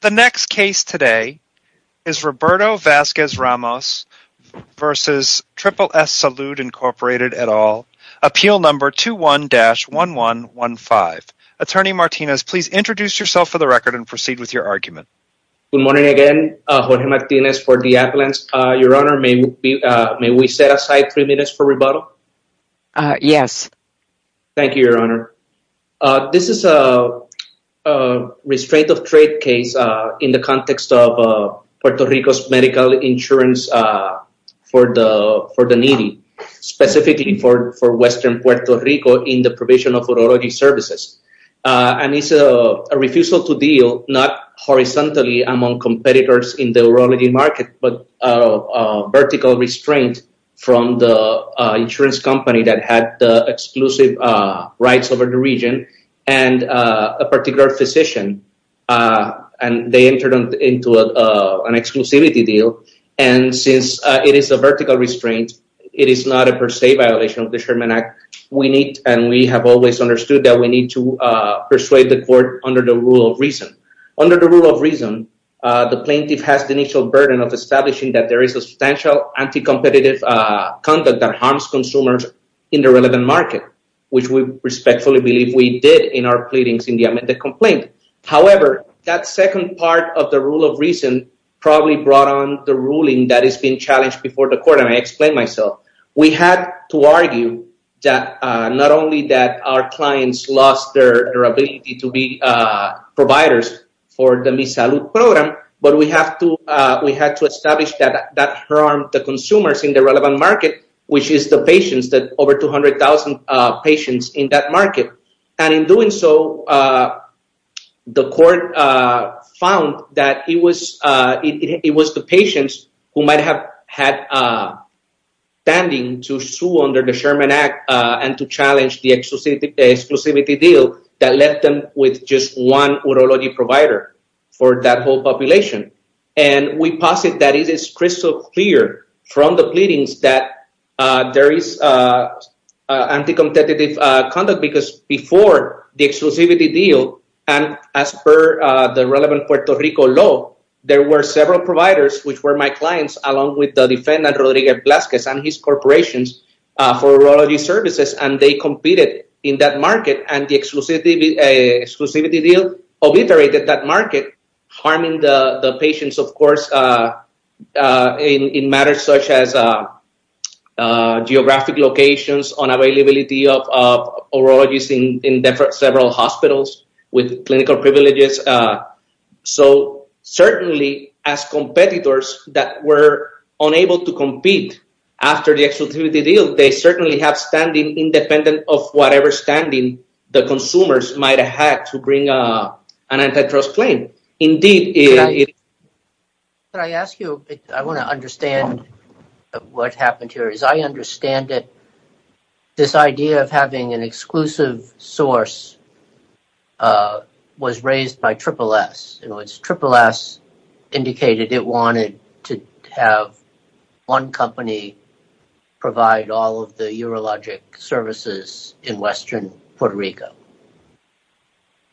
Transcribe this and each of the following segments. The next case today is Roberto Vazquez-Ramos v. Triple-S Salud, Inc. et al. Appeal Number 21-1115. Attorney Martinez, please introduce yourself for the record and proceed with your argument. Good morning again, Jorge Martinez for Diapolans. Your Honor, may we set aside three minutes for rebuttal? Yes. Thank you, Your Honor. This is a restraint of trade case in the context of Puerto Rico's medical insurance for the needy, specifically for western Puerto Rico in the provision of urology services. And it's a refusal to deal not among competitors in the urology market, but a vertical restraint from the insurance company that had the exclusive rights over the region and a particular physician. And they entered into an exclusivity deal. And since it is a vertical restraint, it is not a per se violation of the Sherman Act. We need and we have always understood that we need to persuade the court under the rule of reason. Under the rule of reason, the plaintiff has the initial burden of establishing that there is substantial anti-competitive conduct that harms consumers in the relevant market, which we respectfully believe we did in our pleadings in the amended complaint. However, that second part of the rule of reason probably brought on the ruling that has been challenged before the court. And I explain myself. We had to argue that not only that our providers for the Mi Salud program, but we had to establish that that harmed the consumers in the relevant market, which is the patients that over 200,000 patients in that market. And in doing so, the court found that it was the patients who might have had standing to sue under the Sherman Act and to challenge the exclusivity deal that left them with just one urology provider for that whole population. And we posit that it is crystal clear from the pleadings that there is anti-competitive conduct, because before the exclusivity deal and as per the relevant Puerto Rico law, there were several providers, which were my clients, along with the defendant, Rodrigo Velasquez, and his corporations for urology services, and they competed in that market. And the exclusivity deal obliterated that market, harming the patients, of course, in matters such as geographic locations, unavailability of urologists in several hospitals with clinical privileges. So certainly, as competitors that were unable to compete after the exclusivity deal, they certainly have standing independent of whatever standing the consumers might have had to bring an antitrust claim. Can I ask you, I want to understand what happened here. I understand that this idea of having an have one company provide all of the urologic services in western Puerto Rico.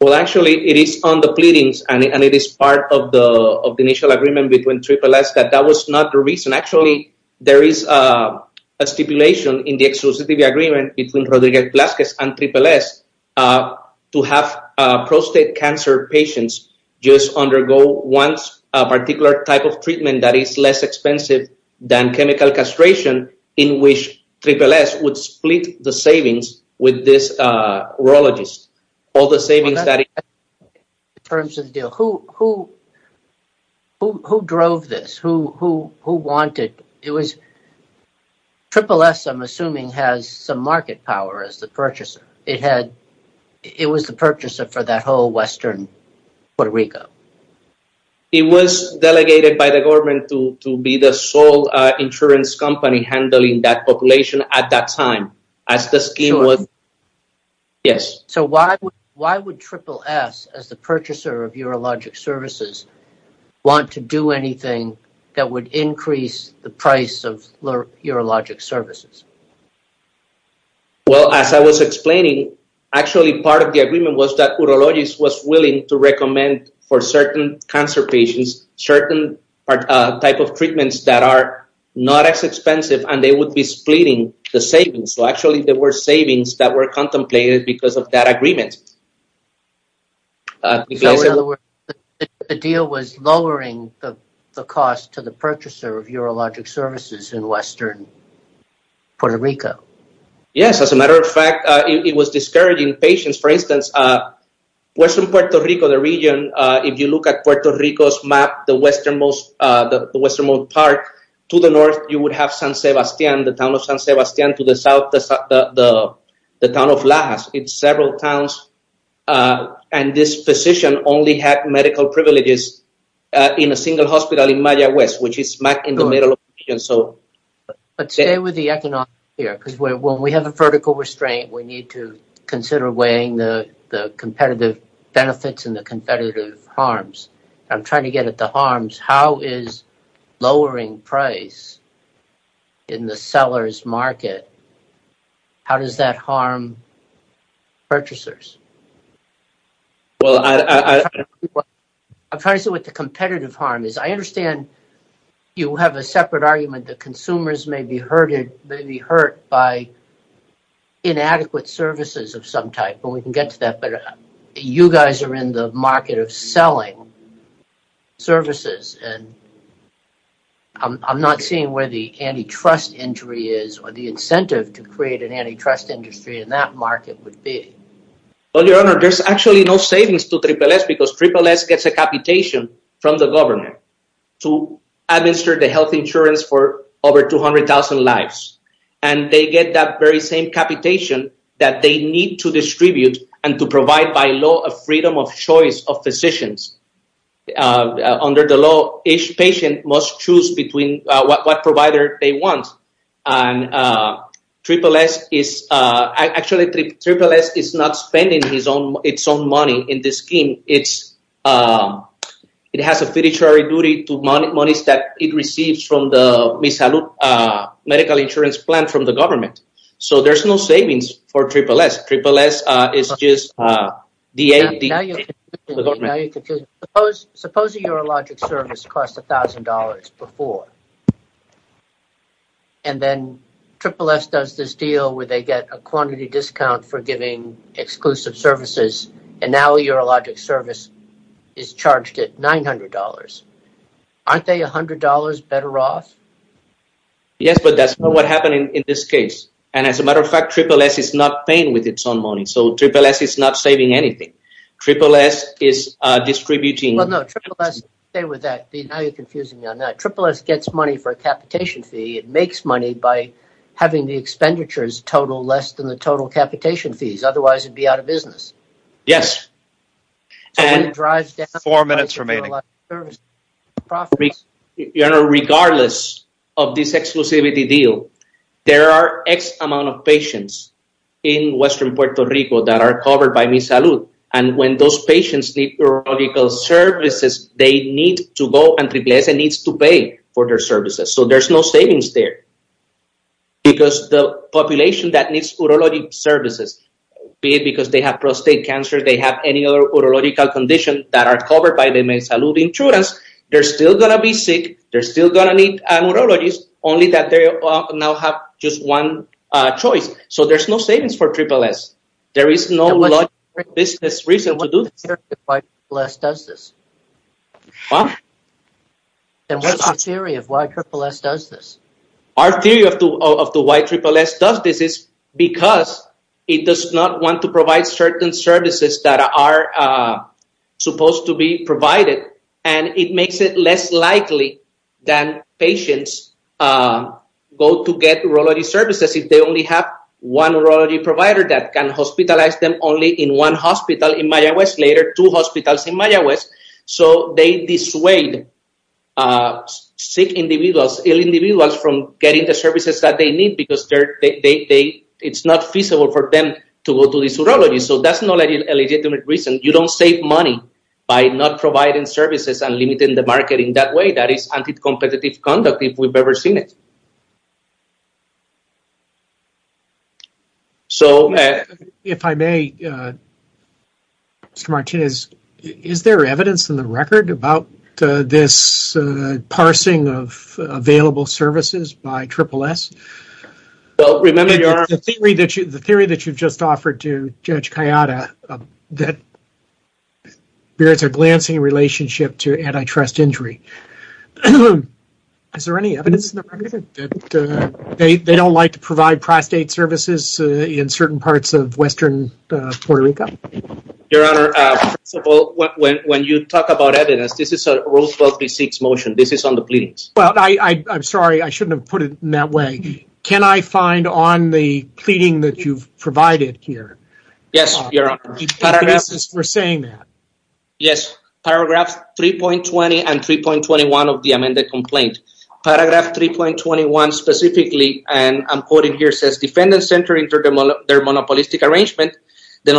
Well, actually, it is on the pleadings, and it is part of the initial agreement between Triple S that that was not the reason. Actually, there is a stipulation in the exclusivity agreement between Rodrigo Velasquez and Triple S to have prostate cancer patients just undergo one particular type of treatment that is less expensive than chemical castration, in which Triple S would split the savings with this urologist. In terms of the deal, who drove this? Triple S, I'm assuming, has some market power as the urologist. It was delegated by the government to be the sole insurance company handling that population at that time. So why would Triple S, as the purchaser of urologic services, want to do anything that would increase the price of urologic services? Well, as I was explaining, actually, part of the agreement was that urologist was willing to recommend for certain cancer patients certain type of treatments that are not as expensive, and they would be splitting the savings. So actually, there were savings that were contemplated because of that agreement. In other words, the deal was lowering the cost to the purchaser of urologic services in western Puerto Rico? Yes. As a matter of fact, it was discouraging patients. For instance, western Puerto Rico, the region, if you look at Puerto Rico's map, the westernmost part, to the north, you would have San Sebastián, the town of San Sebastián, to the south, the town of Lajas. It's several towns, and this physician only had medical privileges in a single hospital in Maya West, which is smack in the middle of the region. But stay with the economics here, because when we have a vertical restraint, we need to consider weighing the competitive benefits and the competitive harms. I'm trying to get at the harms. How is lowering price in the seller's market, how does that harm purchasers? I'm trying to see what the competitive harm is. I understand you have a separate argument that consumers may be hurt by inadequate services of some type, and we can get to that, but you guys are in the market of selling services. I'm not seeing where the antitrust injury is or the incentive to create an antitrust industry in that market would be. Well, Your Honor, there's actually no savings to SSS, because SSS gets a capitation from the government to administer the health insurance for over 200,000 lives, and they get that very same capitation that they need to distribute and to provide, by law, a freedom of choice of physicians. Under the law, each patient must choose between what provider they want. Actually, SSS is not spending its own money in this scheme. It has a fiduciary duty to money that it receives from the medical insurance plan from the government, so there's no savings for SSS. Suppose a urologic service cost $1,000 before, and then SSS does this deal where they get a quantity discount for giving exclusive services, and now a urologic service is charged at $900. Aren't they $100 better off? Yes, but that's not what happened in this case, and as a matter of fact, SSS is not paying with its own money, so SSS is not saving anything. SSS is distributing... Well, no. Stay with that. Now you're confusing me on that. SSS gets money for a capitation fee. It makes money by having the expenditures total less than the total capitation fees. Otherwise, it'd be out of business. Yes. Four minutes remaining. Regardless of this exclusivity deal, there are X amount of patients in western Puerto Rico that are covered by MiSalud, and when those patients need urological services, they need to go and SSS needs to pay for their services, so there's no savings there, because the population that needs urologic services, be it because they have prostate cancer, they have any other urological condition that are covered by the MiSalud insurance, they're still going to be sick, they're still going to need urologies, only that they now have just one choice, so there's no savings for SSS. There is no business reason to do this. Why SSS does this? And what's the theory of why SSS does this? Our theory of why SSS does this is because it does not want to provide certain services that are supposed to be provided, and it makes it less likely that patients go to get urology services if they only have one urology provider that can hospitalize them only in one hospital in Mayaguez, later two hospitals in Mayaguez, so they dissuade sick individuals, ill individuals from getting the services that they need because it's not feasible for them to go to the urology, so that's not a legitimate reason. You don't save money by not providing services and limiting the market in that way. That is anti-competitive conduct if we've ever seen it. So if I may, Mr. Martinez, is there evidence in the record about this parsing of available services by SSS? The theory that you've just offered to Judge Kayada that there's a glancing relationship to antitrust injury. Is there any evidence in the record that they don't like to provide prostate services in certain parts of western Puerto Rico? Your Honor, first of all, when you talk about evidence, this is a Rule 12b6 motion. This is on the pleadings. Well, I'm sorry. I shouldn't have put it in that way. Can I find on the pleading that you've provided here? Yes, Your Honor. We're saying that. Yes. Paragraph 3.20 and 3.21 of the amended complaint. Paragraph 3.21 specifically, and I'm quoting here, says, defendants entering through their monopolistic arrangement, the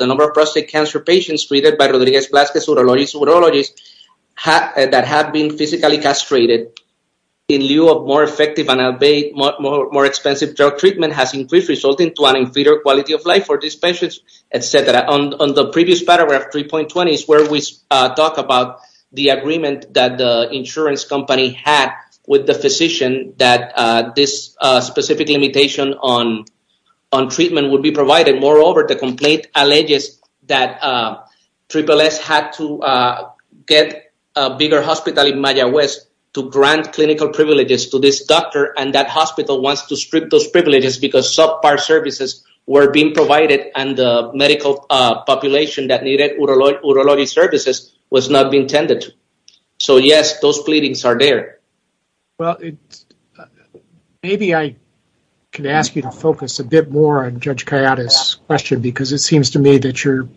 number of prostate cancer patients treated by Rodriguez-Vlasquez urologists that have been physically castrated in lieu of more effective and more expensive drug treatment has increased, resulting to an inferior quality of life for these patients, et cetera. On the previous paragraph, 3.20, is where we talk about the agreement that the insurance company had with the physician that this specific limitation on treatment would be provided. Moreover, the complaint alleges that SSS had to get a bigger hospital in Mayaguez to grant clinical privileges to this doctor, and that hospital wants to strip those privileges because subpar services were being provided and the medical population that intended to. So, yes, those pleadings are there. Well, maybe I can ask you to focus a bit more on Judge Callada's question because it seems to me that you're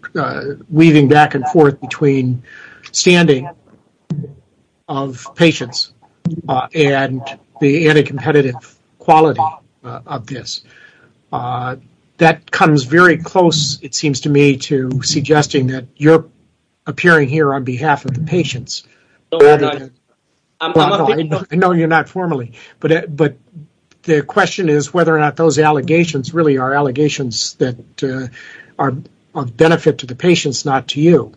weaving back and forth between standing of patients and the anti-competitive quality of this. That comes very close, it seems to me, suggesting that you're appearing here on behalf of the patients. No, you're not formally, but the question is whether or not those allegations really are allegations that are of benefit to the patients, not to you.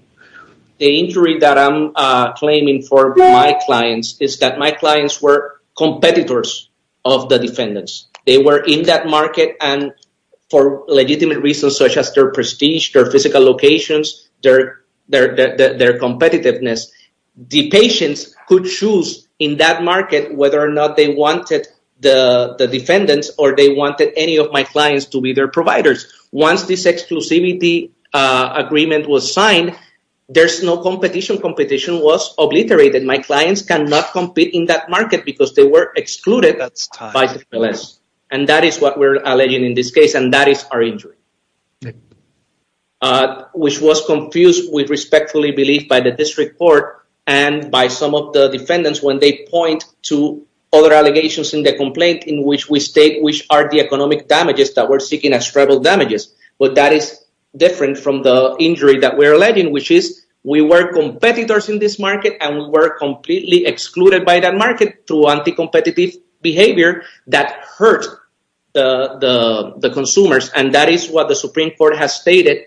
The injury that I'm claiming for my clients is that my clients were competitors of the defendants. They were in that market and for legitimate reasons such as their prestige, their physical locations, their competitiveness, the patients could choose in that market whether or not they wanted the defendants or they wanted any of my clients to be their providers. Once this exclusivity agreement was signed, there's no competition. Competition was obliterated. My clients cannot compete in that and that is our injury, which was confused with respectfully believed by the district court and by some of the defendants when they point to other allegations in the complaint in which we state which are the economic damages that we're seeking as tribal damages. But that is different from the injury that we're alleging, which is we were competitors in this market and we were excluded by that market through anti-competitive behavior that hurt the consumers and that is what the Supreme Court has stated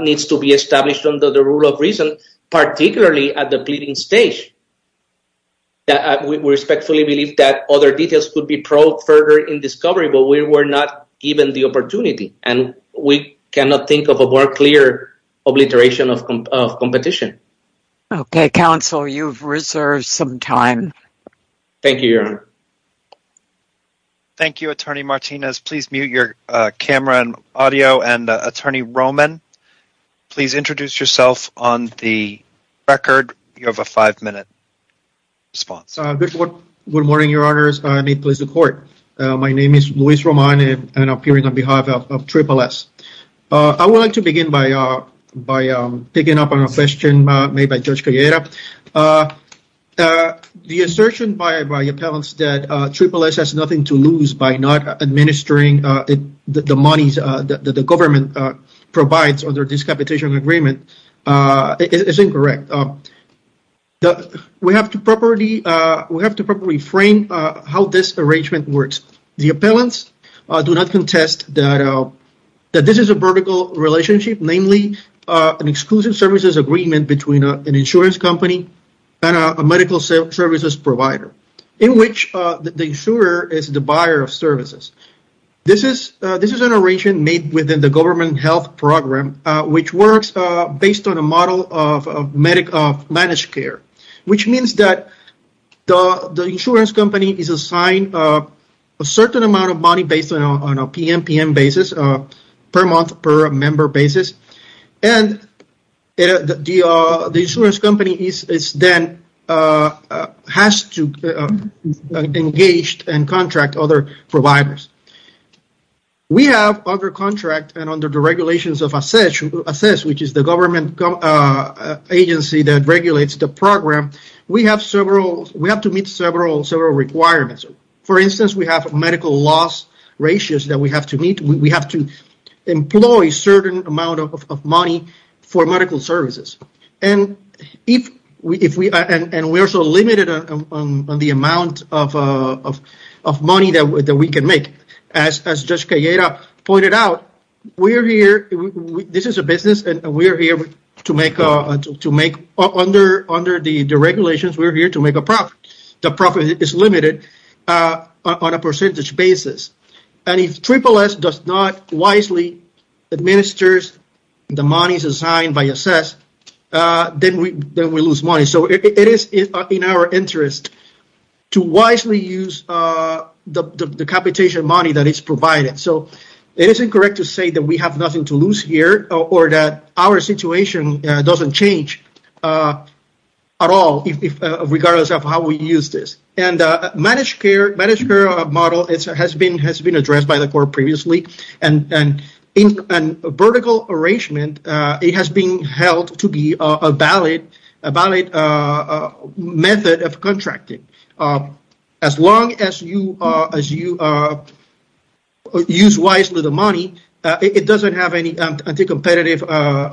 needs to be established under the rule of reason, particularly at the pleading stage. We respectfully believe that other details could be probed further in discovery, but we were not given the opportunity and we cannot think of a more clear obliteration of competition. Okay, counsel, you've reserved some time. Thank you, your honor. Thank you, attorney Martinez. Please mute your camera and audio and attorney Roman, please introduce yourself on the record. You have a five-minute response. Good morning, your honors. I need to please the court. My name is Luis Roman and I'm appearing on behalf of picking up on a question made by Judge Calleja. The assertion by appellants that SSS has nothing to lose by not administering the monies that the government provides under this competition agreement is incorrect. We have to properly frame how this arrangement works. The appellants do not contest that this is a vertical relationship, namely an exclusive services agreement between an insurance company and a medical services provider in which the insurer is the buyer of services. This is an arrangement made within the government health program, which works based on a model of managed care, which means that the insurance company is assigned a certain amount of money based on a PMPM basis, per month per member basis, and the insurance company then has to engage and contract other providers. We have under contract and under the regulations of SSS, which is the government agency that regulates the program, we have to meet several requirements. For instance, we have medical loss ratios that we have to meet. We have to employ a certain amount of money for medical services. We are also limited on the amount of money that we can make. As Judge Calleja pointed out, this is a business and under the regulations, we are here to make a profit. The profit is limited on a percentage basis. If SSS does not wisely administer the monies assigned by SSS, then we lose money. It is in our interest to wisely use the competition provided. It is incorrect to say that we have nothing to lose here or that our situation does not change at all, regardless of how we use this. The managed care model has been addressed by the court previously. In a vertical arrangement, it has been held to be a valid method of contracting. As long as you use wisely the money, it does not have any anti-competitive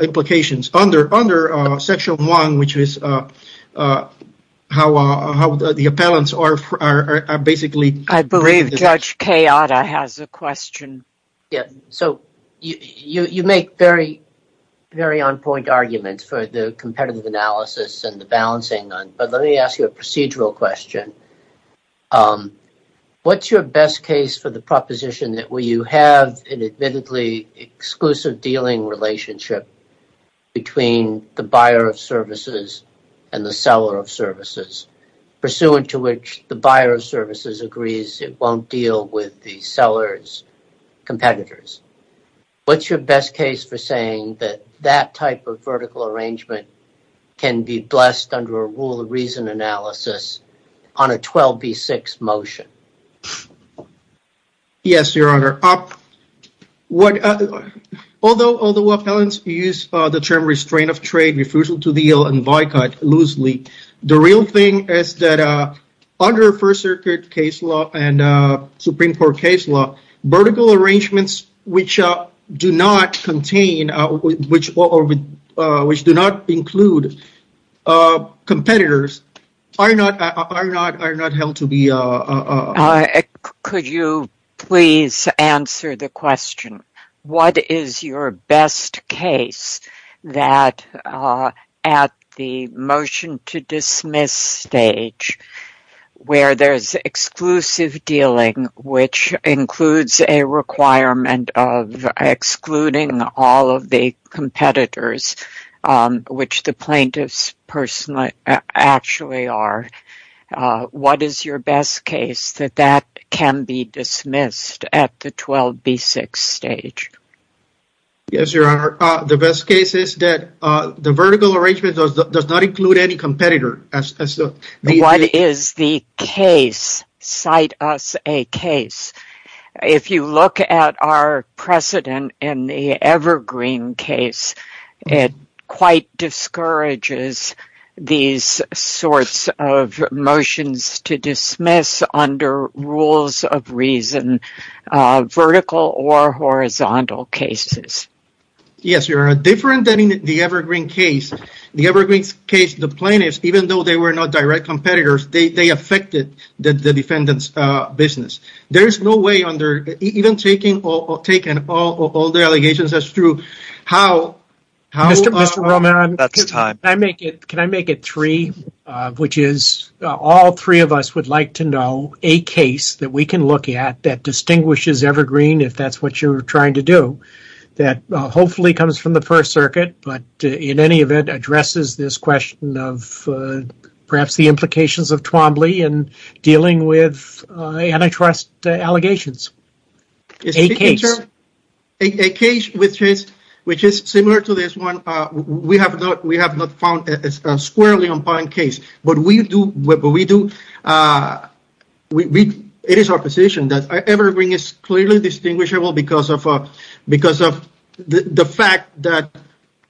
implications. Under Section 1, which is how the appellants are basically— I believe Judge Keada has a question. So you make very on-point arguments for the competitive analysis and the balancing, but let me ask you a procedural question. What is your best case for the proposition that you have an admittedly exclusive dealing relationship between the buyer of services and the seller of services, pursuant to which the buyer of services agrees it will not deal with the seller's competitors? What is your best case for saying that that type of vertical arrangement can be blessed under a rule of reason analysis on a 12B6 motion? Yes, Your Honor. Although appellants use the term restraint of trade, refusal to deal, and boycott loosely, the real thing is that under First Circuit case law and Supreme Court case law, vertical arrangements which do not contain or which do not include competitors are not held to be— Could you please answer the question? What is your best case that at the motion to dismiss stage, where there's exclusive dealing, which includes a requirement of excluding all of the competitors, which the plaintiffs actually are, what is your best case that that can be dismissed at the 12B6 stage? Yes, Your Honor. The best case is that the What is the case? Cite us a case. If you look at our precedent in the Evergreen case, it quite discourages these sorts of motions to dismiss under rules of reason, vertical or horizontal cases. Yes, Your Honor. Different than in the Evergreen case, the Evergreen case, the plaintiffs, even though they were not direct competitors, they affected the defendant's business. There is no way under—even taking all the allegations as true, how— Mr. Roman, can I make it three, which is all three of us would like to know a case that we can look at that distinguishes Evergreen, if that's what you're trying to do, that hopefully comes from the First Circuit, but in any event addresses this question of perhaps the implications of Twombly in dealing with antitrust allegations. A case. A case which is similar to this one. We have not found a squarely unbiased case, but we do—it is our position that Evergreen is clearly distinguishable because of the fact that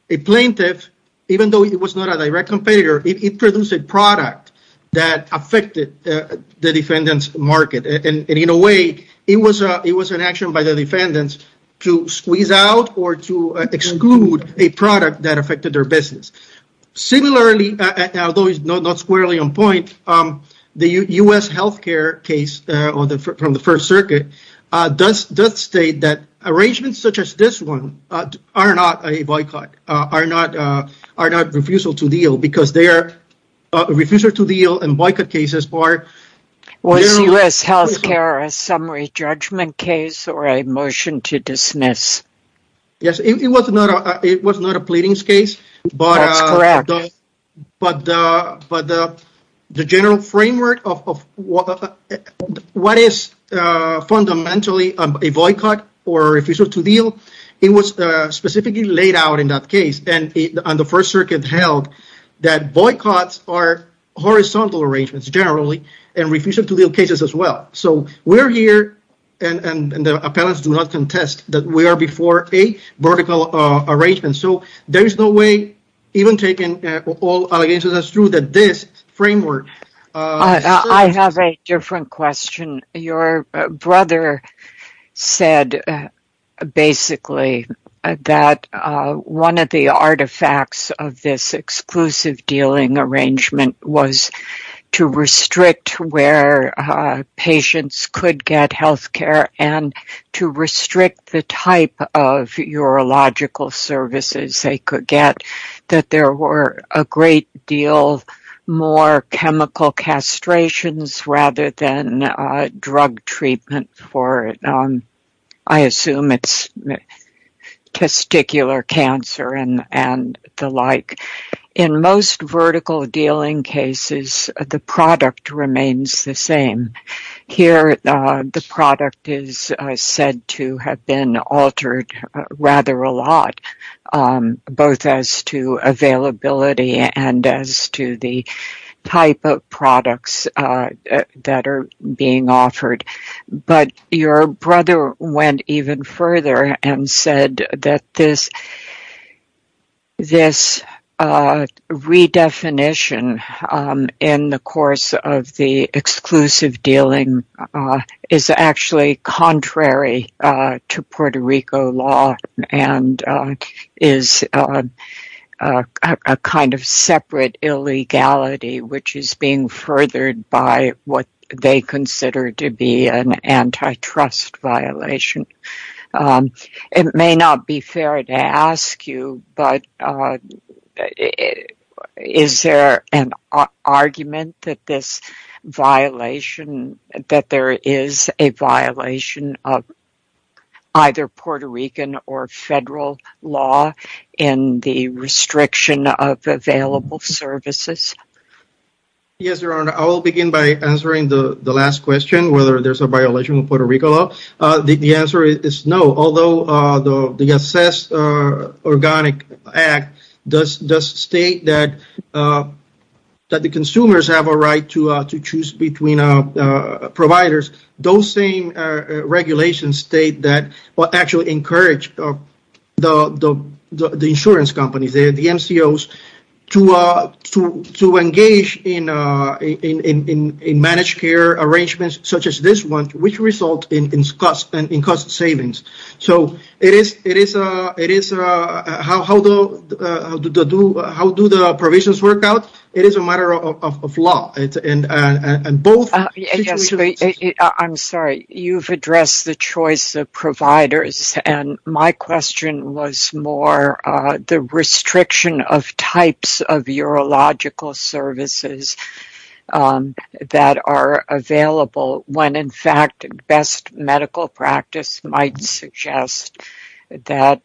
a plaintiff, even though it was not a direct competitor, it produced a product that affected the defendant's market. In a way, it was an action by the defendants to squeeze out or to exclude a product that affected their business. Similarly, although it's not squarely on point, the U.S. healthcare case from the First Circuit does state that arrangements such as this one are not a boycott, are not refusal to deal, because they are—refusal to deal and boycott cases are— Was U.S. healthcare a summary judgment case or a motion to dismiss? Yes, it was not a pleadings case, but the general framework of what is fundamentally a boycott or refusal to deal, it was specifically laid out in that case and the First Circuit held that boycotts are horizontal arrangements generally and refusal to deal cases as well. We're here and the appellants do not contest that we are before a vertical arrangement, so there is no way even taking all allegations as true that this framework— I have a different question. Your brother said basically that one of the artifacts of this patients could get healthcare and to restrict the type of urological services they could get, that there were a great deal more chemical castrations rather than drug treatment for, I assume it's testicular cancer and the like. In most vertical dealing cases, the product remains the same. Here, the product is said to have been altered rather a lot, both as to availability and as to the type of products that are being offered, but your brother went even further and said that this redefinition in the course of the exclusive dealing is actually contrary to Puerto Rico law and is a kind of separate illegality which is being violated. It may not be fair to ask you, but is there an argument that there is a violation of either Puerto Rican or federal law in the restriction of available services? Yes, Your Honor. I will begin by answering the last question, whether there's a violation of the regulation. The answer is no. Although the Assess Organic Act does state that the consumers have a right to choose between providers, those same regulations state that—actually encourage the insurance companies, the MCOs, to engage in managed care arrangements such as this one, which results in cost savings. How do the provisions work out? It is a matter of law. I'm sorry. You've addressed the choice of providers, and my question was more the restriction of types of urological services that are available when, in fact, best medical practice might suggest that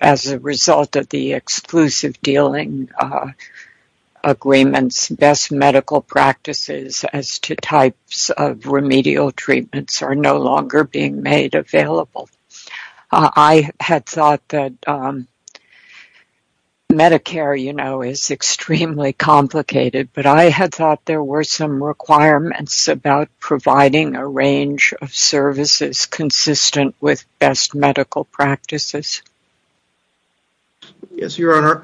as a result of the exclusive dealing agreements, best medical practices as to types of remedial treatments are no longer being made available. I had thought that Medicare is extremely complicated, but I had thought there were some requirements about providing a range of services consistent with best medical practices. Yes, Your Honor.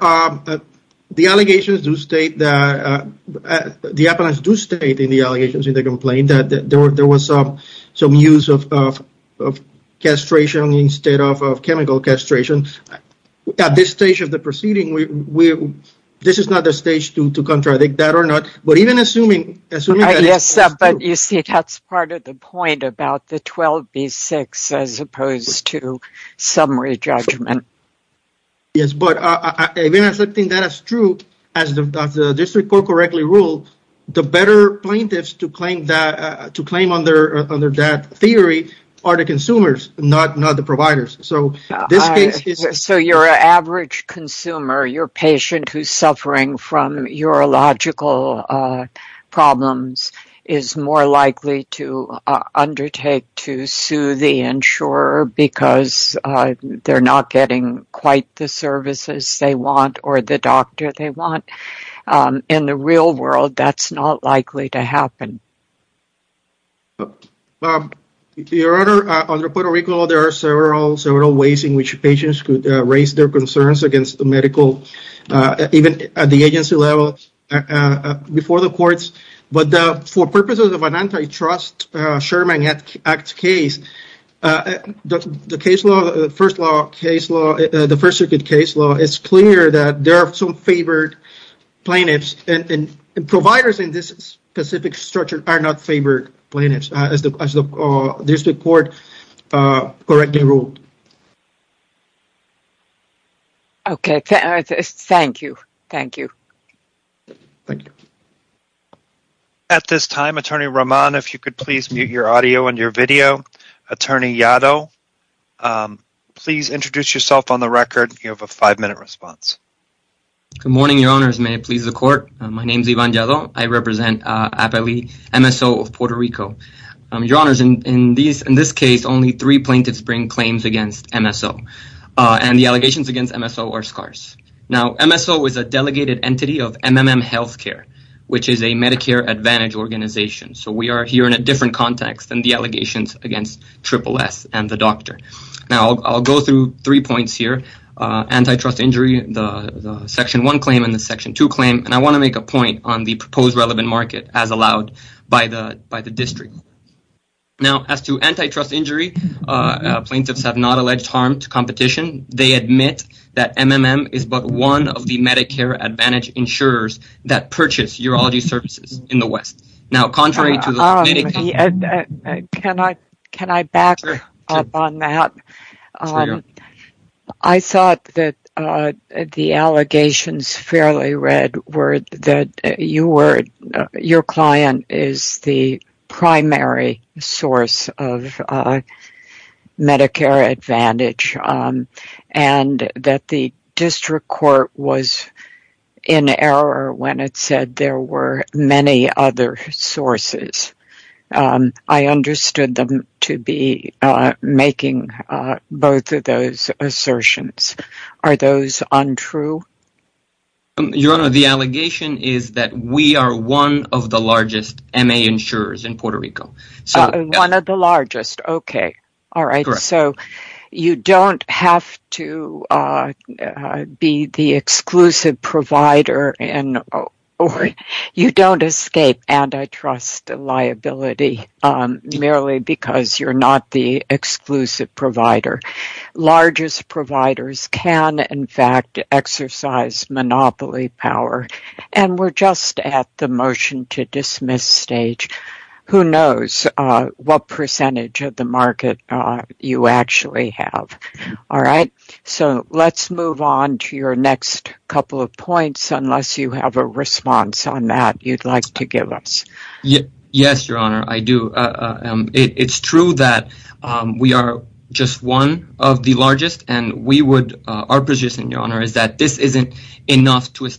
The appellants do state in the allegations in the complaint that there was some use of castration instead of chemical castration. At this stage of the proceeding, this is not the stage to contradict that or not, but even assuming— You see, that's part of the point about the 12B6 as opposed to summary judgment. Yes, but even accepting that as true, as the district court correctly ruled, the better plaintiffs to claim under that theory are the consumers, not the providers. So your average consumer, your patient who's suffering from urological problems is more likely to undertake to sue the insurer because they're not getting quite the services they want or the doctor they want. In the real world, that's not likely to happen. Your Honor, under Puerto Rico, there are several ways in which patients could raise their concerns against the medical, even at the agency level, before the courts. But for purposes of an Sherman Act case, the First Circuit case law is clear that there are some favored plaintiffs, and providers in this specific structure are not favored plaintiffs, as the district court correctly ruled. Thank you. At this time, Attorney Roman, if you could please mute your audio and your video. Attorney Yaddo, please introduce yourself on the record. You have a five-minute response. Good morning, Your Honors. May it please the court. My name is Ivan Yaddo. I represent APELI, MSO of Puerto Rico. Your Honors, in this case, only three plaintiffs bring claims against MSO. MSO is a delegated entity of MMM Healthcare, which is a Medicare Advantage organization. So, we are here in a different context than the allegations against SSS and the doctor. Now, I'll go through three points here, antitrust injury, the Section 1 claim, and the Section 2 claim. And I want to make a point on the proposed relevant market as allowed by the district. Now, as to antitrust injury, plaintiffs have not alleged harm to competition. They admit that MMM is but one of the Medicare Advantage insurers that purchase urology services in the West. Now, contrary to the... Can I back up on that? I thought that the allegations fairly read that your client is the primary source of Medicare Advantage and that the district court was in error when it said there were many other sources. I understood them to be making both of those assertions. Are those untrue? Your Honor, the allegation is that we are one of the largest MA insurers in Puerto Rico. One of the largest. Okay. All right. So, you don't have to be the exclusive provider and you don't escape antitrust liability merely because you're not the exclusive provider. Largest providers can, in fact, exercise monopoly power. And we're just at the motion to dismiss stage. Who knows what percentage of the market you actually have. All right. So, let's move on to your next couple of points, unless you have a response on that you'd like to give us. Yes, Your Honor, I do. It's true that we are just one of the largest and our position, Your Honor, is that this is not enough to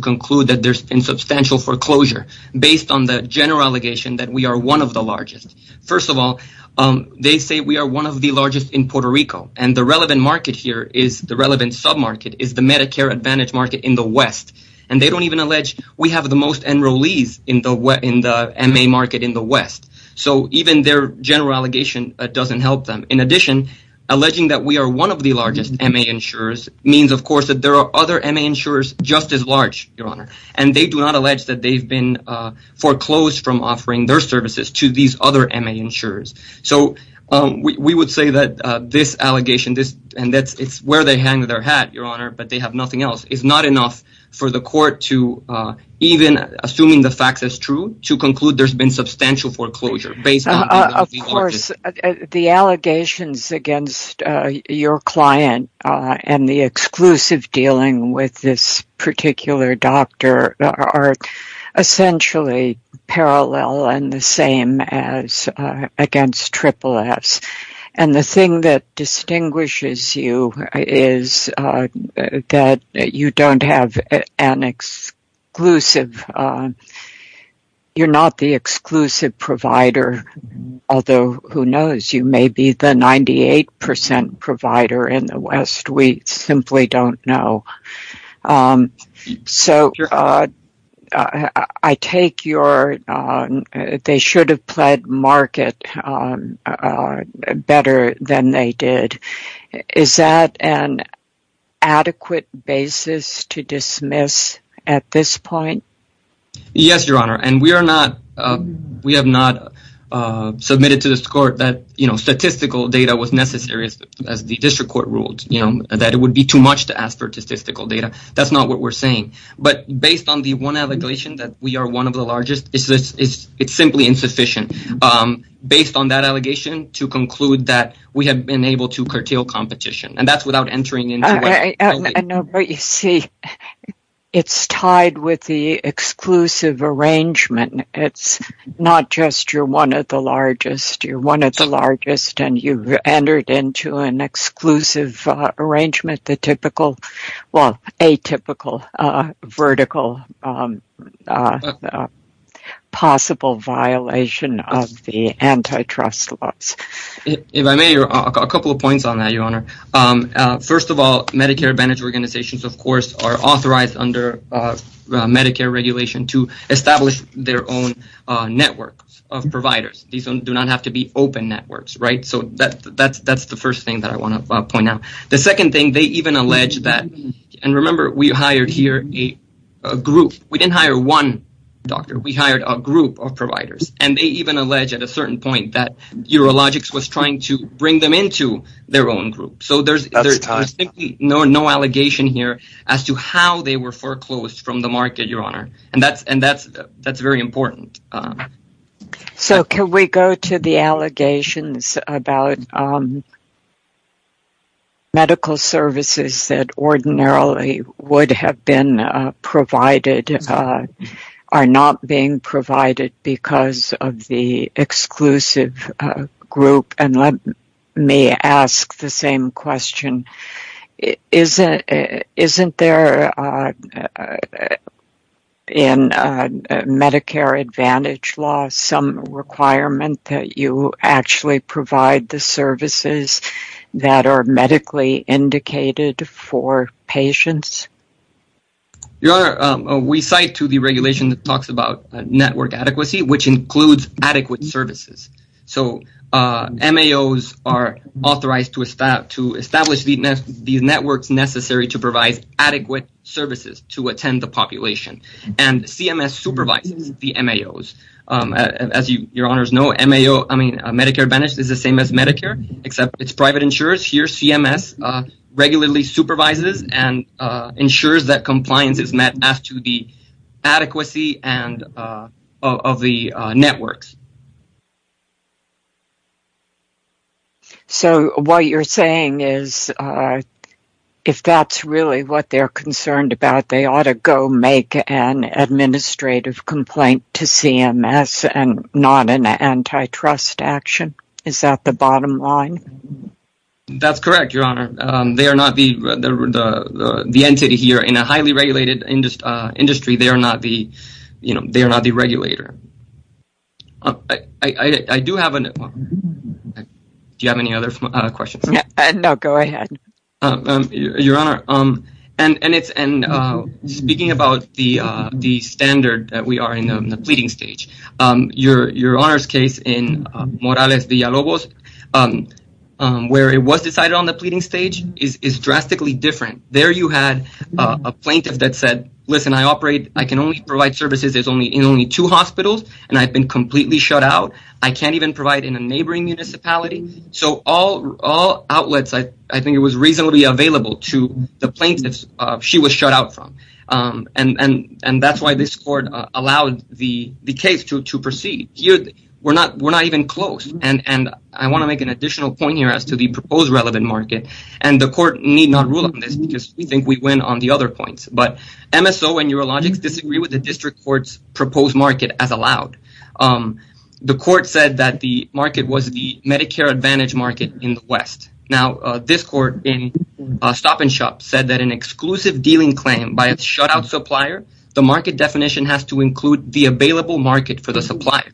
conclude that there's been substantial foreclosure based on the general allegation that we are one of the largest. First of all, they say we are one of the largest in Puerto Rico and the relevant market is the Medicare Advantage market in the West. And they don't even allege we have the most enrollees in the MA market in the West. So, even their general allegation doesn't help them. In addition, alleging that we are one of the largest MA insurers means, of course, that there are other MA insurers just as large, Your Honor, and they do not allege that they've been foreclosed from where they hang their hat, Your Honor, but they have nothing else. It's not enough for the court to, even assuming the fact is true, to conclude there's been substantial foreclosure. Of course, the allegations against your client and the exclusive dealing with this particular doctor are essentially parallel and the same as against SSS. And the thing that is that you don't have an exclusive, you're not the exclusive provider, although who knows, you may be the 98% provider in the West. We simply don't know. So, I take your, they should have pled market better than they did. Is that an adequate basis to dismiss at this point? Yes, Your Honor. And we have not submitted to this court that statistical data was necessary, as the district court ruled, that it would be too much to ask for statistical data. That's not what we're saying. But based on the one allegation that we are one of the largest it's simply insufficient, based on that allegation, to conclude that we have been able to curtail competition. And that's without entering into- I know, but you see, it's tied with the exclusive arrangement. It's not just you're one of the largest, you're one of the largest and you've entered into an exclusive arrangement, the typical, well, atypical, vertical, possible violation of the antitrust laws. If I may, a couple of points on that, Your Honor. First of all, Medicare Advantage organizations, of course, are authorized under Medicare regulation to establish their own network of providers. These do not have to be open networks, right? So, that's the first thing that I want to point out. The second thing, they even allege that- and remember, we hired here a group. We didn't hire one doctor. We hired a group of providers. And they even allege at a certain point that Eurologix was trying to bring them into their own group. So, there's no allegation here as to how they were foreclosed from the market, Your Honor. And that's very important. So, can we go to the allegations about medical services that ordinarily would have been provided are not being provided because of the exclusive group? And let me ask the same question. Isn't there in Medicare Advantage law some requirement that you actually provide the services that are medically indicated for patients? Your Honor, we cite to the regulation that talks about network adequacy, which includes adequate services. So, MAOs are authorized to establish these networks necessary to provide adequate services to attend the population. And CMS supervises the MAOs. As Your Honors know, Medicare Advantage is the same as Medicare, except it's private insurers. Here, CMS regularly supervises and ensures that compliance is met as to the adequacy of the networks. So, what you're saying is, if that's really what they're concerned about, they ought to go make an administrative complaint to CMS and not an antitrust action? Is that the bottom line? That's correct, Your Honor. They are not the entity here in a highly regulated industry. They are not the regulator. Do you have any other questions? No, go ahead. Your Honor, speaking about the standard that we are in the pleading stage, Your Honor's case in Morales-Villalobos, where it was decided on the pleading stage, is drastically different. There, you had a plaintiff that said, listen, I operate, I can only provide services in only two hospitals, and I've been completely shut out. I can't even provide in a neighboring municipality. So, all outlets, I think it was reasonably available to the plaintiffs she was shut out from. And that's why this court allowed the case to proceed. We're not even close. And I want to make an additional point here as to the proposed relevant market. And the court need not rule on this because we think we win on the other points. But MSO and Neurologics disagree with the district court's proposed market as allowed. The court said that the market was the Medicare Advantage market in the West. Now, this court in Stop-and-Shop said that an exclusive dealing claim by a shutout supplier, the market definition has to include the available market for the supplier.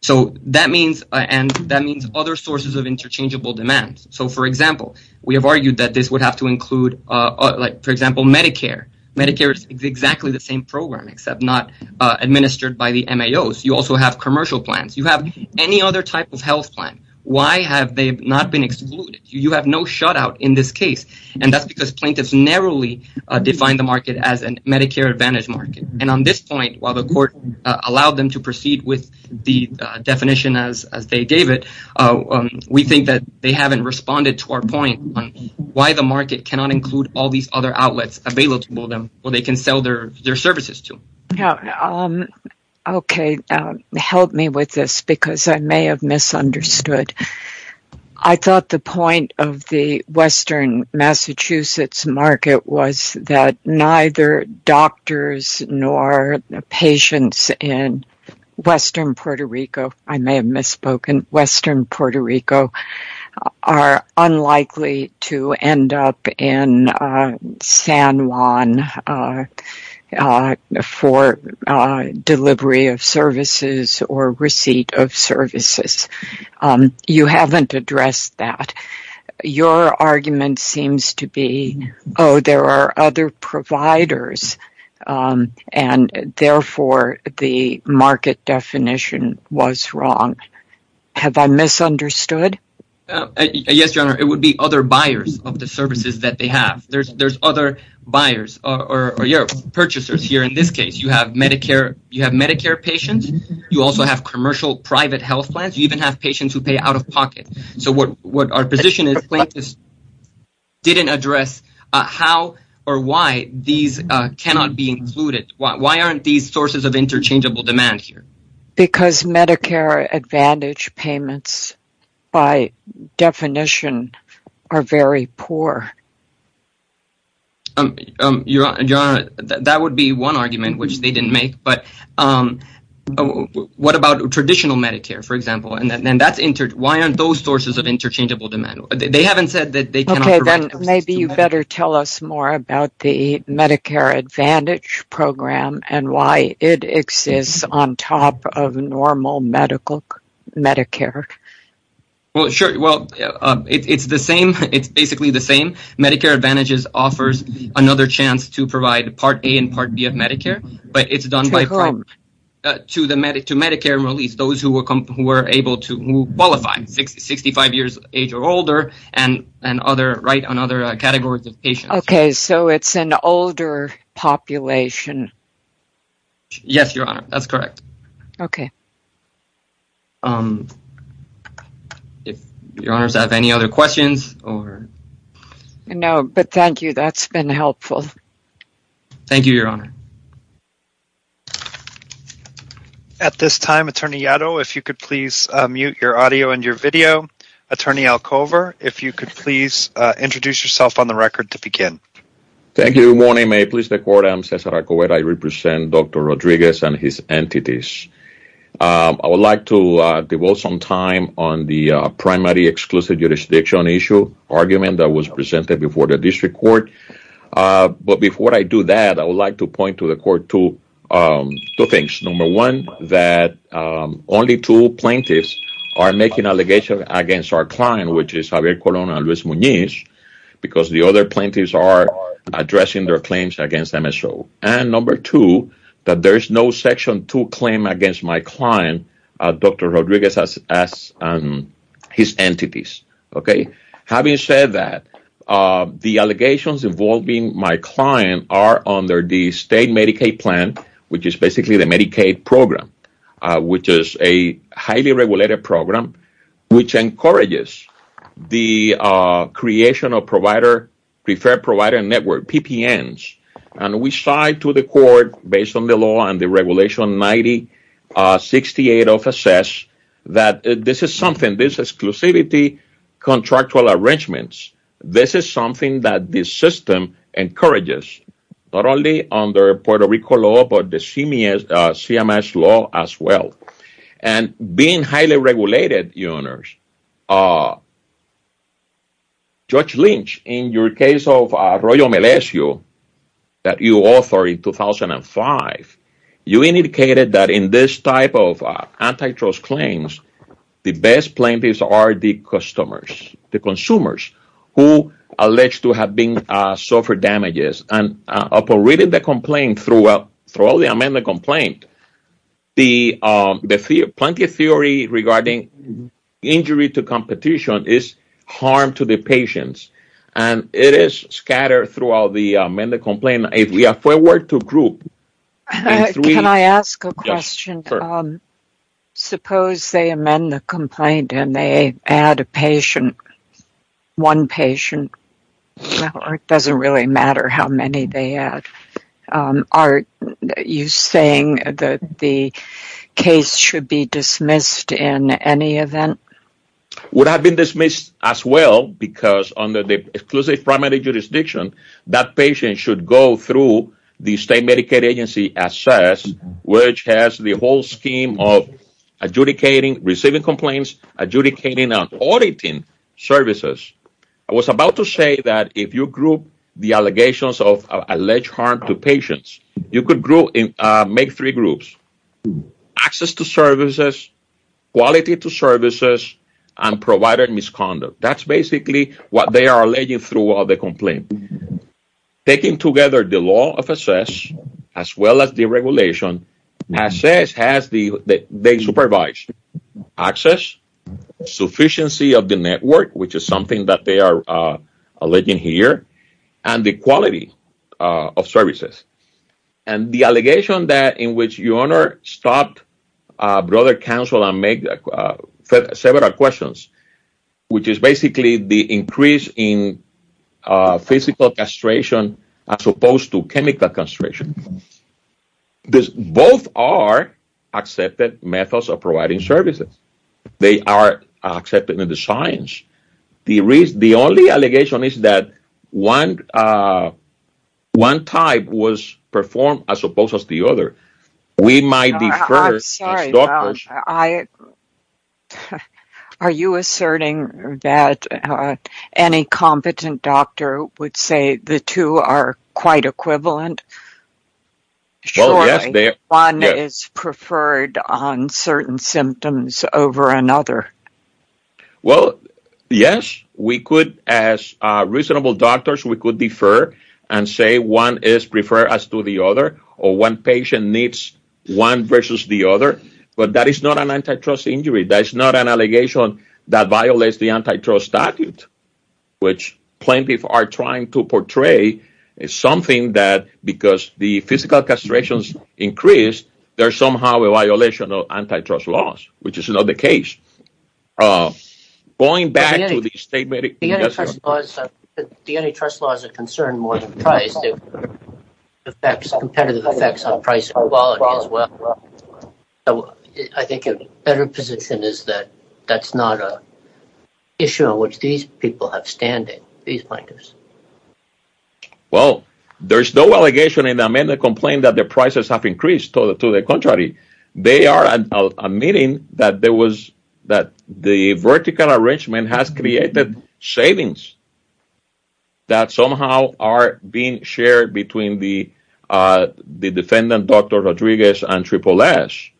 So, that means other sources of interchangeable demands. So, for example, we have argued that this would have to include, like, for example, Medicare. Medicare is exactly the same program, except not administered by the MAOs. You also have commercial plans. You have any other type of health plan. Why have they not been excluded? You have no shutout in this case. And that's because plaintiffs narrowly defined the market as a Medicare Advantage market. And on this point, while the court allowed them to proceed with the they haven't responded to our point on why the market cannot include all these other outlets available to them where they can sell their services to. Okay, help me with this because I may have misunderstood. I thought the point of the Western Massachusetts market was that neither doctors nor patients in Western Puerto Rico, I may have misspoken, Western Puerto Rico are unlikely to end up in San Juan for delivery of services or receipt of services. You haven't addressed that. Your argument seems to be, oh, there are other providers, and therefore, the market definition was wrong. Have I misunderstood? Yes, Your Honor, it would be other buyers of the services that they have. There's other buyers or purchasers here. In this case, you have Medicare. You have Medicare patients. You also have commercial private health plans. You even have patients who pay out of pocket. So what our position is, plaintiffs didn't address how or why these cannot be included. Why aren't these sources of interchangeable demand here? Because Medicare Advantage payments, by definition, are very poor. That would be one argument which they didn't make. But what about traditional Medicare, for example? Why aren't those sources of interchangeable demand? Maybe you better tell us more about the Medicare Advantage program and why it exists on top of normal Medicare. It's basically the same. Medicare Advantage offers another chance to provide Part A and Part B of Medicare, but it's done by who are able to qualify, 65 years of age or older, and write on other categories of patients. Okay, so it's an older population. Yes, Your Honor, that's correct. Okay. If Your Honors have any other questions? No, but thank you. That's been helpful. Thank you, Your Honor. At this time, Attorney Yaddo, if you could please mute your audio and your video. Attorney Alcover, if you could please introduce yourself on the record to begin. Thank you. Good morning. May it please the Court? I'm Cesar Alcover. I represent Dr. Rodriguez and his entities. I would like to devote some time on the primary exclusive jurisdiction issue argument that was presented before the District Court. But before I do that, I would like to the Court two things. Number one, that only two plaintiffs are making allegations against our client, which is Javier Colon and Luis Muñiz, because the other plaintiffs are addressing their claims against MSO. And number two, that there is no Section 2 claim against my client, Dr. Rodriguez and his entities. Having said that, the allegations involving my client are under the state Medicaid plan, which is basically the Medicaid program, which is a highly regulated program, which encourages the creation of preferred provider network, PPNs. And we saw to the Court, based on the law and the Regulation 9068 of SS, that this is something, these exclusivity contractual arrangements, this is something that this system encourages, not only under Puerto Rico law, but the CMS law as well. And being highly regulated, Judge Lynch, in your case of Royal Melesio that you authored in 2005, you indicated that in this type of antitrust claims, the best plaintiffs are the customers, the consumers, who are alleged to have suffered damages. And operating the complaint, throughout the amended complaint, the plaintiff's theory regarding injury to competition is harm to the patients. And it is scattered throughout the amended complaint. If we were to group… Can I ask a question? Sure. Suppose they amend the complaint and they add a patient, one patient, it doesn't really matter how many they add. Are you saying that the case should be dismissed in any event? It would have been dismissed as well, because under the exclusive primary jurisdiction, that patient should go through the state Medicaid SS, which has the whole scheme of adjudicating, receiving complaints, adjudicating and auditing services. I was about to say that if you group the allegations of alleged harm to patients, you could make three groups. Access to services, quality to services, and provided misconduct. That's basically what they are alleging throughout the complaint. Taking together the law of SS, as well as the regulation, SS has the supervised access, sufficiency of the network, which is something that they are alleging here, and the quality of services. And the allegation that in which your Honor stopped Brother Counsel and made several questions, which is basically the increase in physical castration as opposed to chemical castration. Both are accepted methods of providing services. They are accepted in the science. The only allegation is that one type was performed as opposed to the other. I'm sorry. Are you asserting that any competent doctor would say the two are quite equivalent? Surely, one is preferred on certain symptoms over another. Well, yes. As reasonable doctors, we could defer and say one is preferred as to the other, or one patient needs one versus the other. But that is not an antitrust injury. That's not an allegation that violates the antitrust statute, which plaintiffs are trying to portray something that, because the physical castrations increase, there's somehow a violation of antitrust laws, which is not the case. Going back to the statement... The antitrust law is a concern more than price. It affects competitive effects on price and quality as well. I think a better position is that that's not an issue on which these people have standing, these plaintiffs. Well, there's no allegation in the amendment complaint that the prices have increased. To the contrary, they are admitting that there was the vertical arrangement has created savings that somehow are being shared between the defendant, Dr. Rodriguez, and Triple S.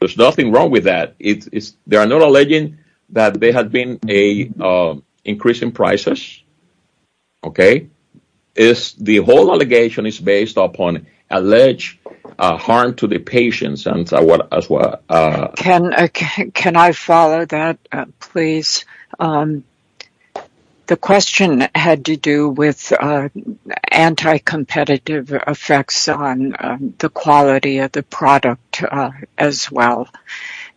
There's nothing wrong with that. They are not alleging that there has been an increase in prices. The whole allegation is based upon alleged harm to the patients. Can I follow that, please? The question had to do with anti-competitive effects on the quality of the product as well.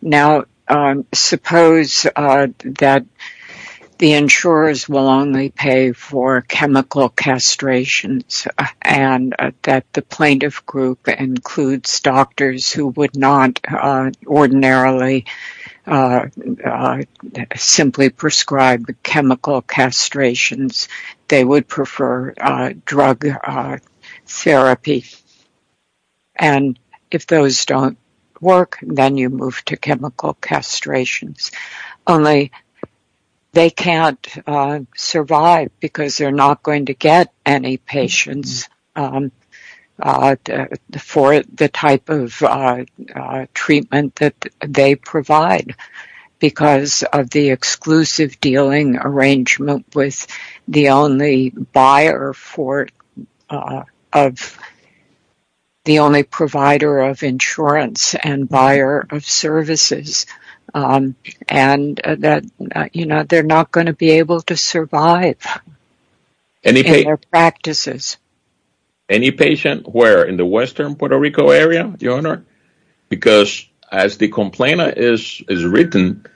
Now, suppose that the insurers will only pay for chemical castrations and that the plaintiff group includes doctors who would not ordinarily simply prescribe the chemical castrations. They would prefer drug therapy. If those don't work, then you move to chemical castrations. Only, they can't survive because they're not going to get any patients for the type of treatment that they provide because of the exclusive dealing arrangement with the only they're not going to be able to survive in their practices. Any patient where in the western Puerto Rico area, your honor, because as the complainant is written,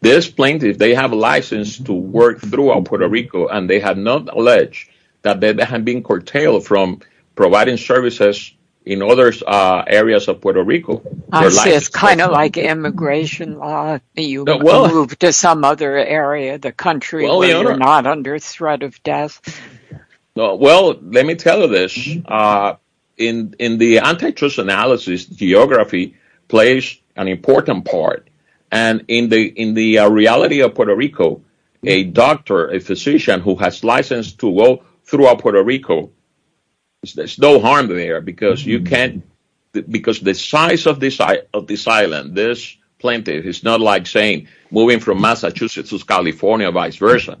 this plaintiff, they have a license to work throughout Puerto Rico and they have not alleged that they have been curtailed from providing services in other areas of Puerto Rico. It's kind of like immigration. You move to some other area of the country where you're not under threat of death. Let me tell you this. In the antitrust analysis, geography plays an important part. In the reality of Puerto Rico, a doctor, a physician who has license to work throughout Puerto Rico, there's no harm there because the size of this island, this plaintiff, it's not like moving from Massachusetts to California or vice versa.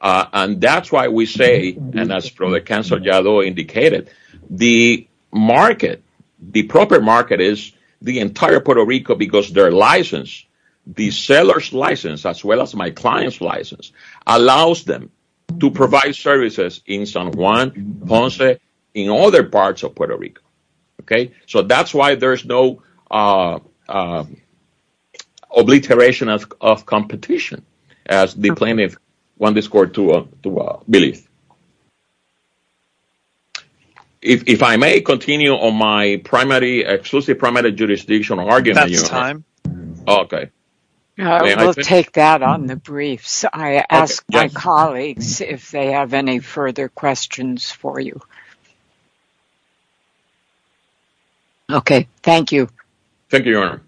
That's why we say, and as Professor Yadó indicated, the proper market is the entire Puerto Rico because their license, the seller's license as well as my client's license, allows them to provide services in San Juan, Ponce, in other parts of Puerto Rico. That's why there's no obliteration of competition as the plaintiff wanted to believe. If I may continue on my exclusive primary jurisdiction argument. That's time. Okay. I will take that on the briefs. I ask my colleagues if they have any further questions for you. Okay. Thank you. Thank you, Your Honor.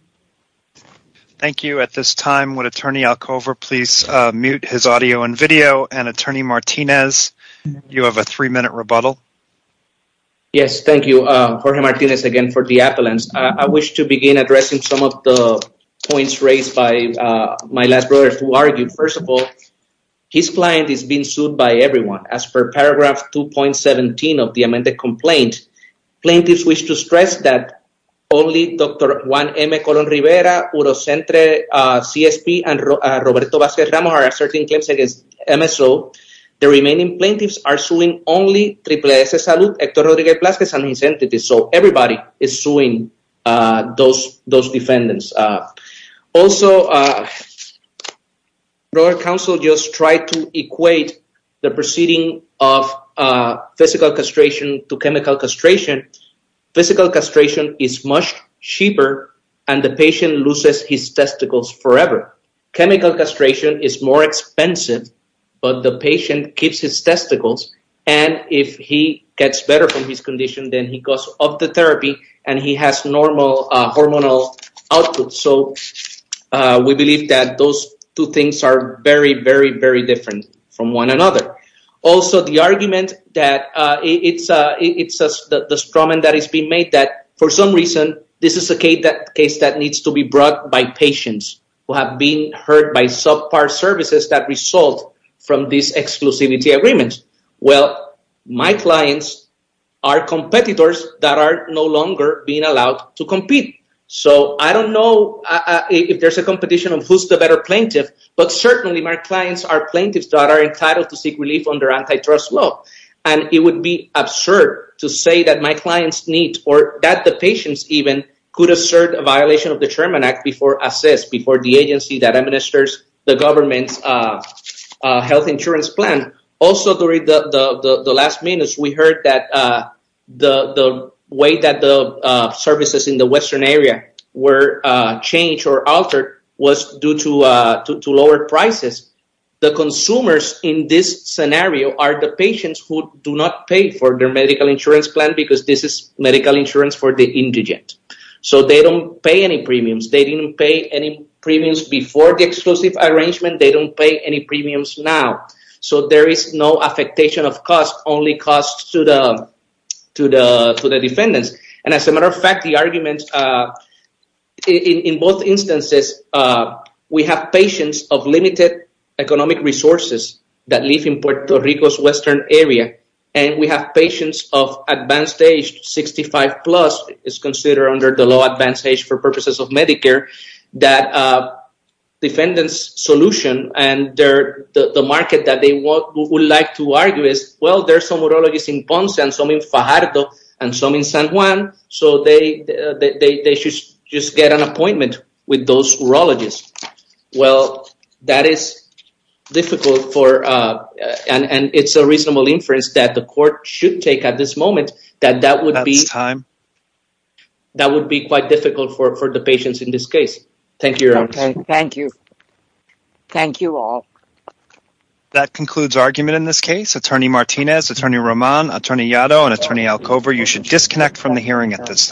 Thank you. At this time, would Attorney Alcover please mute his audio and video? And Attorney Martinez, you have a three-minute rebuttal. Yes. Thank you. Jorge Martinez again for the appellants. I wish to begin addressing some of the my last brothers who argued. First of all, his client is being sued by everyone. As per paragraph 2.17 of the amended complaint, plaintiffs wish to stress that only Dr. Juan M. Colón-Rivera, Urocentre, CSP, and Roberto Vasquez-Ramos are asserting claims against MSO. The remaining plaintiffs are suing only Triple S Salud, Hector Rodríguez-Plazas, and his entities. So everybody is suing those defendants. Also, your counsel just tried to equate the proceeding of physical castration to chemical castration. Physical castration is much cheaper, and the patient loses his testicles forever. Chemical castration is more expensive, but the patient keeps his condition, then he goes off the therapy, and he has normal hormonal output. So we believe that those two things are very, very, very different from one another. Also, the argument that it's the struggle that is being made that, for some reason, this is a case that needs to be brought by patients who have been hurt by subpar services that result from these exclusivity agreements. Well, my clients are competitors that are no longer being allowed to compete. So I don't know if there's a competition of who's the better plaintiff, but certainly my clients are plaintiffs that are entitled to seek relief under antitrust law. And it would be absurd to say that my clients need, or that the patients even, could assert a violation of the Chairman Act before the agency that administers the government's health insurance plan. Also, during the last minutes, we heard that the way that the services in the western area were changed or altered was due to lower prices. The consumers in this scenario are the patients who do not pay for their medical insurance plan because this is medical insurance for the indigent. So they don't pay any premiums. They didn't pay any premiums before the exclusive arrangement. They don't pay any premiums now. So there is no affectation of costs, only costs to the defendants. And as a matter of fact, the argument in both instances, we have patients of limited economic resources that live in Puerto Rico's western area. And we have patients of advanced age, 65 plus, is considered under the low advanced age for purposes of Medicare, that defendants' solution and the market that they would like to argue is, well, there's some urologists in Ponce and some in Fajardo and some in San Juan, so they should just get an appointment with those urologists. Well, that is difficult for, and it's a reasonable inference that the court should take at this moment, that that would be... That's time. That would be quite difficult for the patients in this case. Thank you, Your Honor. Thank you. Thank you all. That concludes argument in this case. Attorney Martinez, Attorney Roman, Attorney Yaddo, and Attorney Alcover, you should disconnect from the hearing at this time.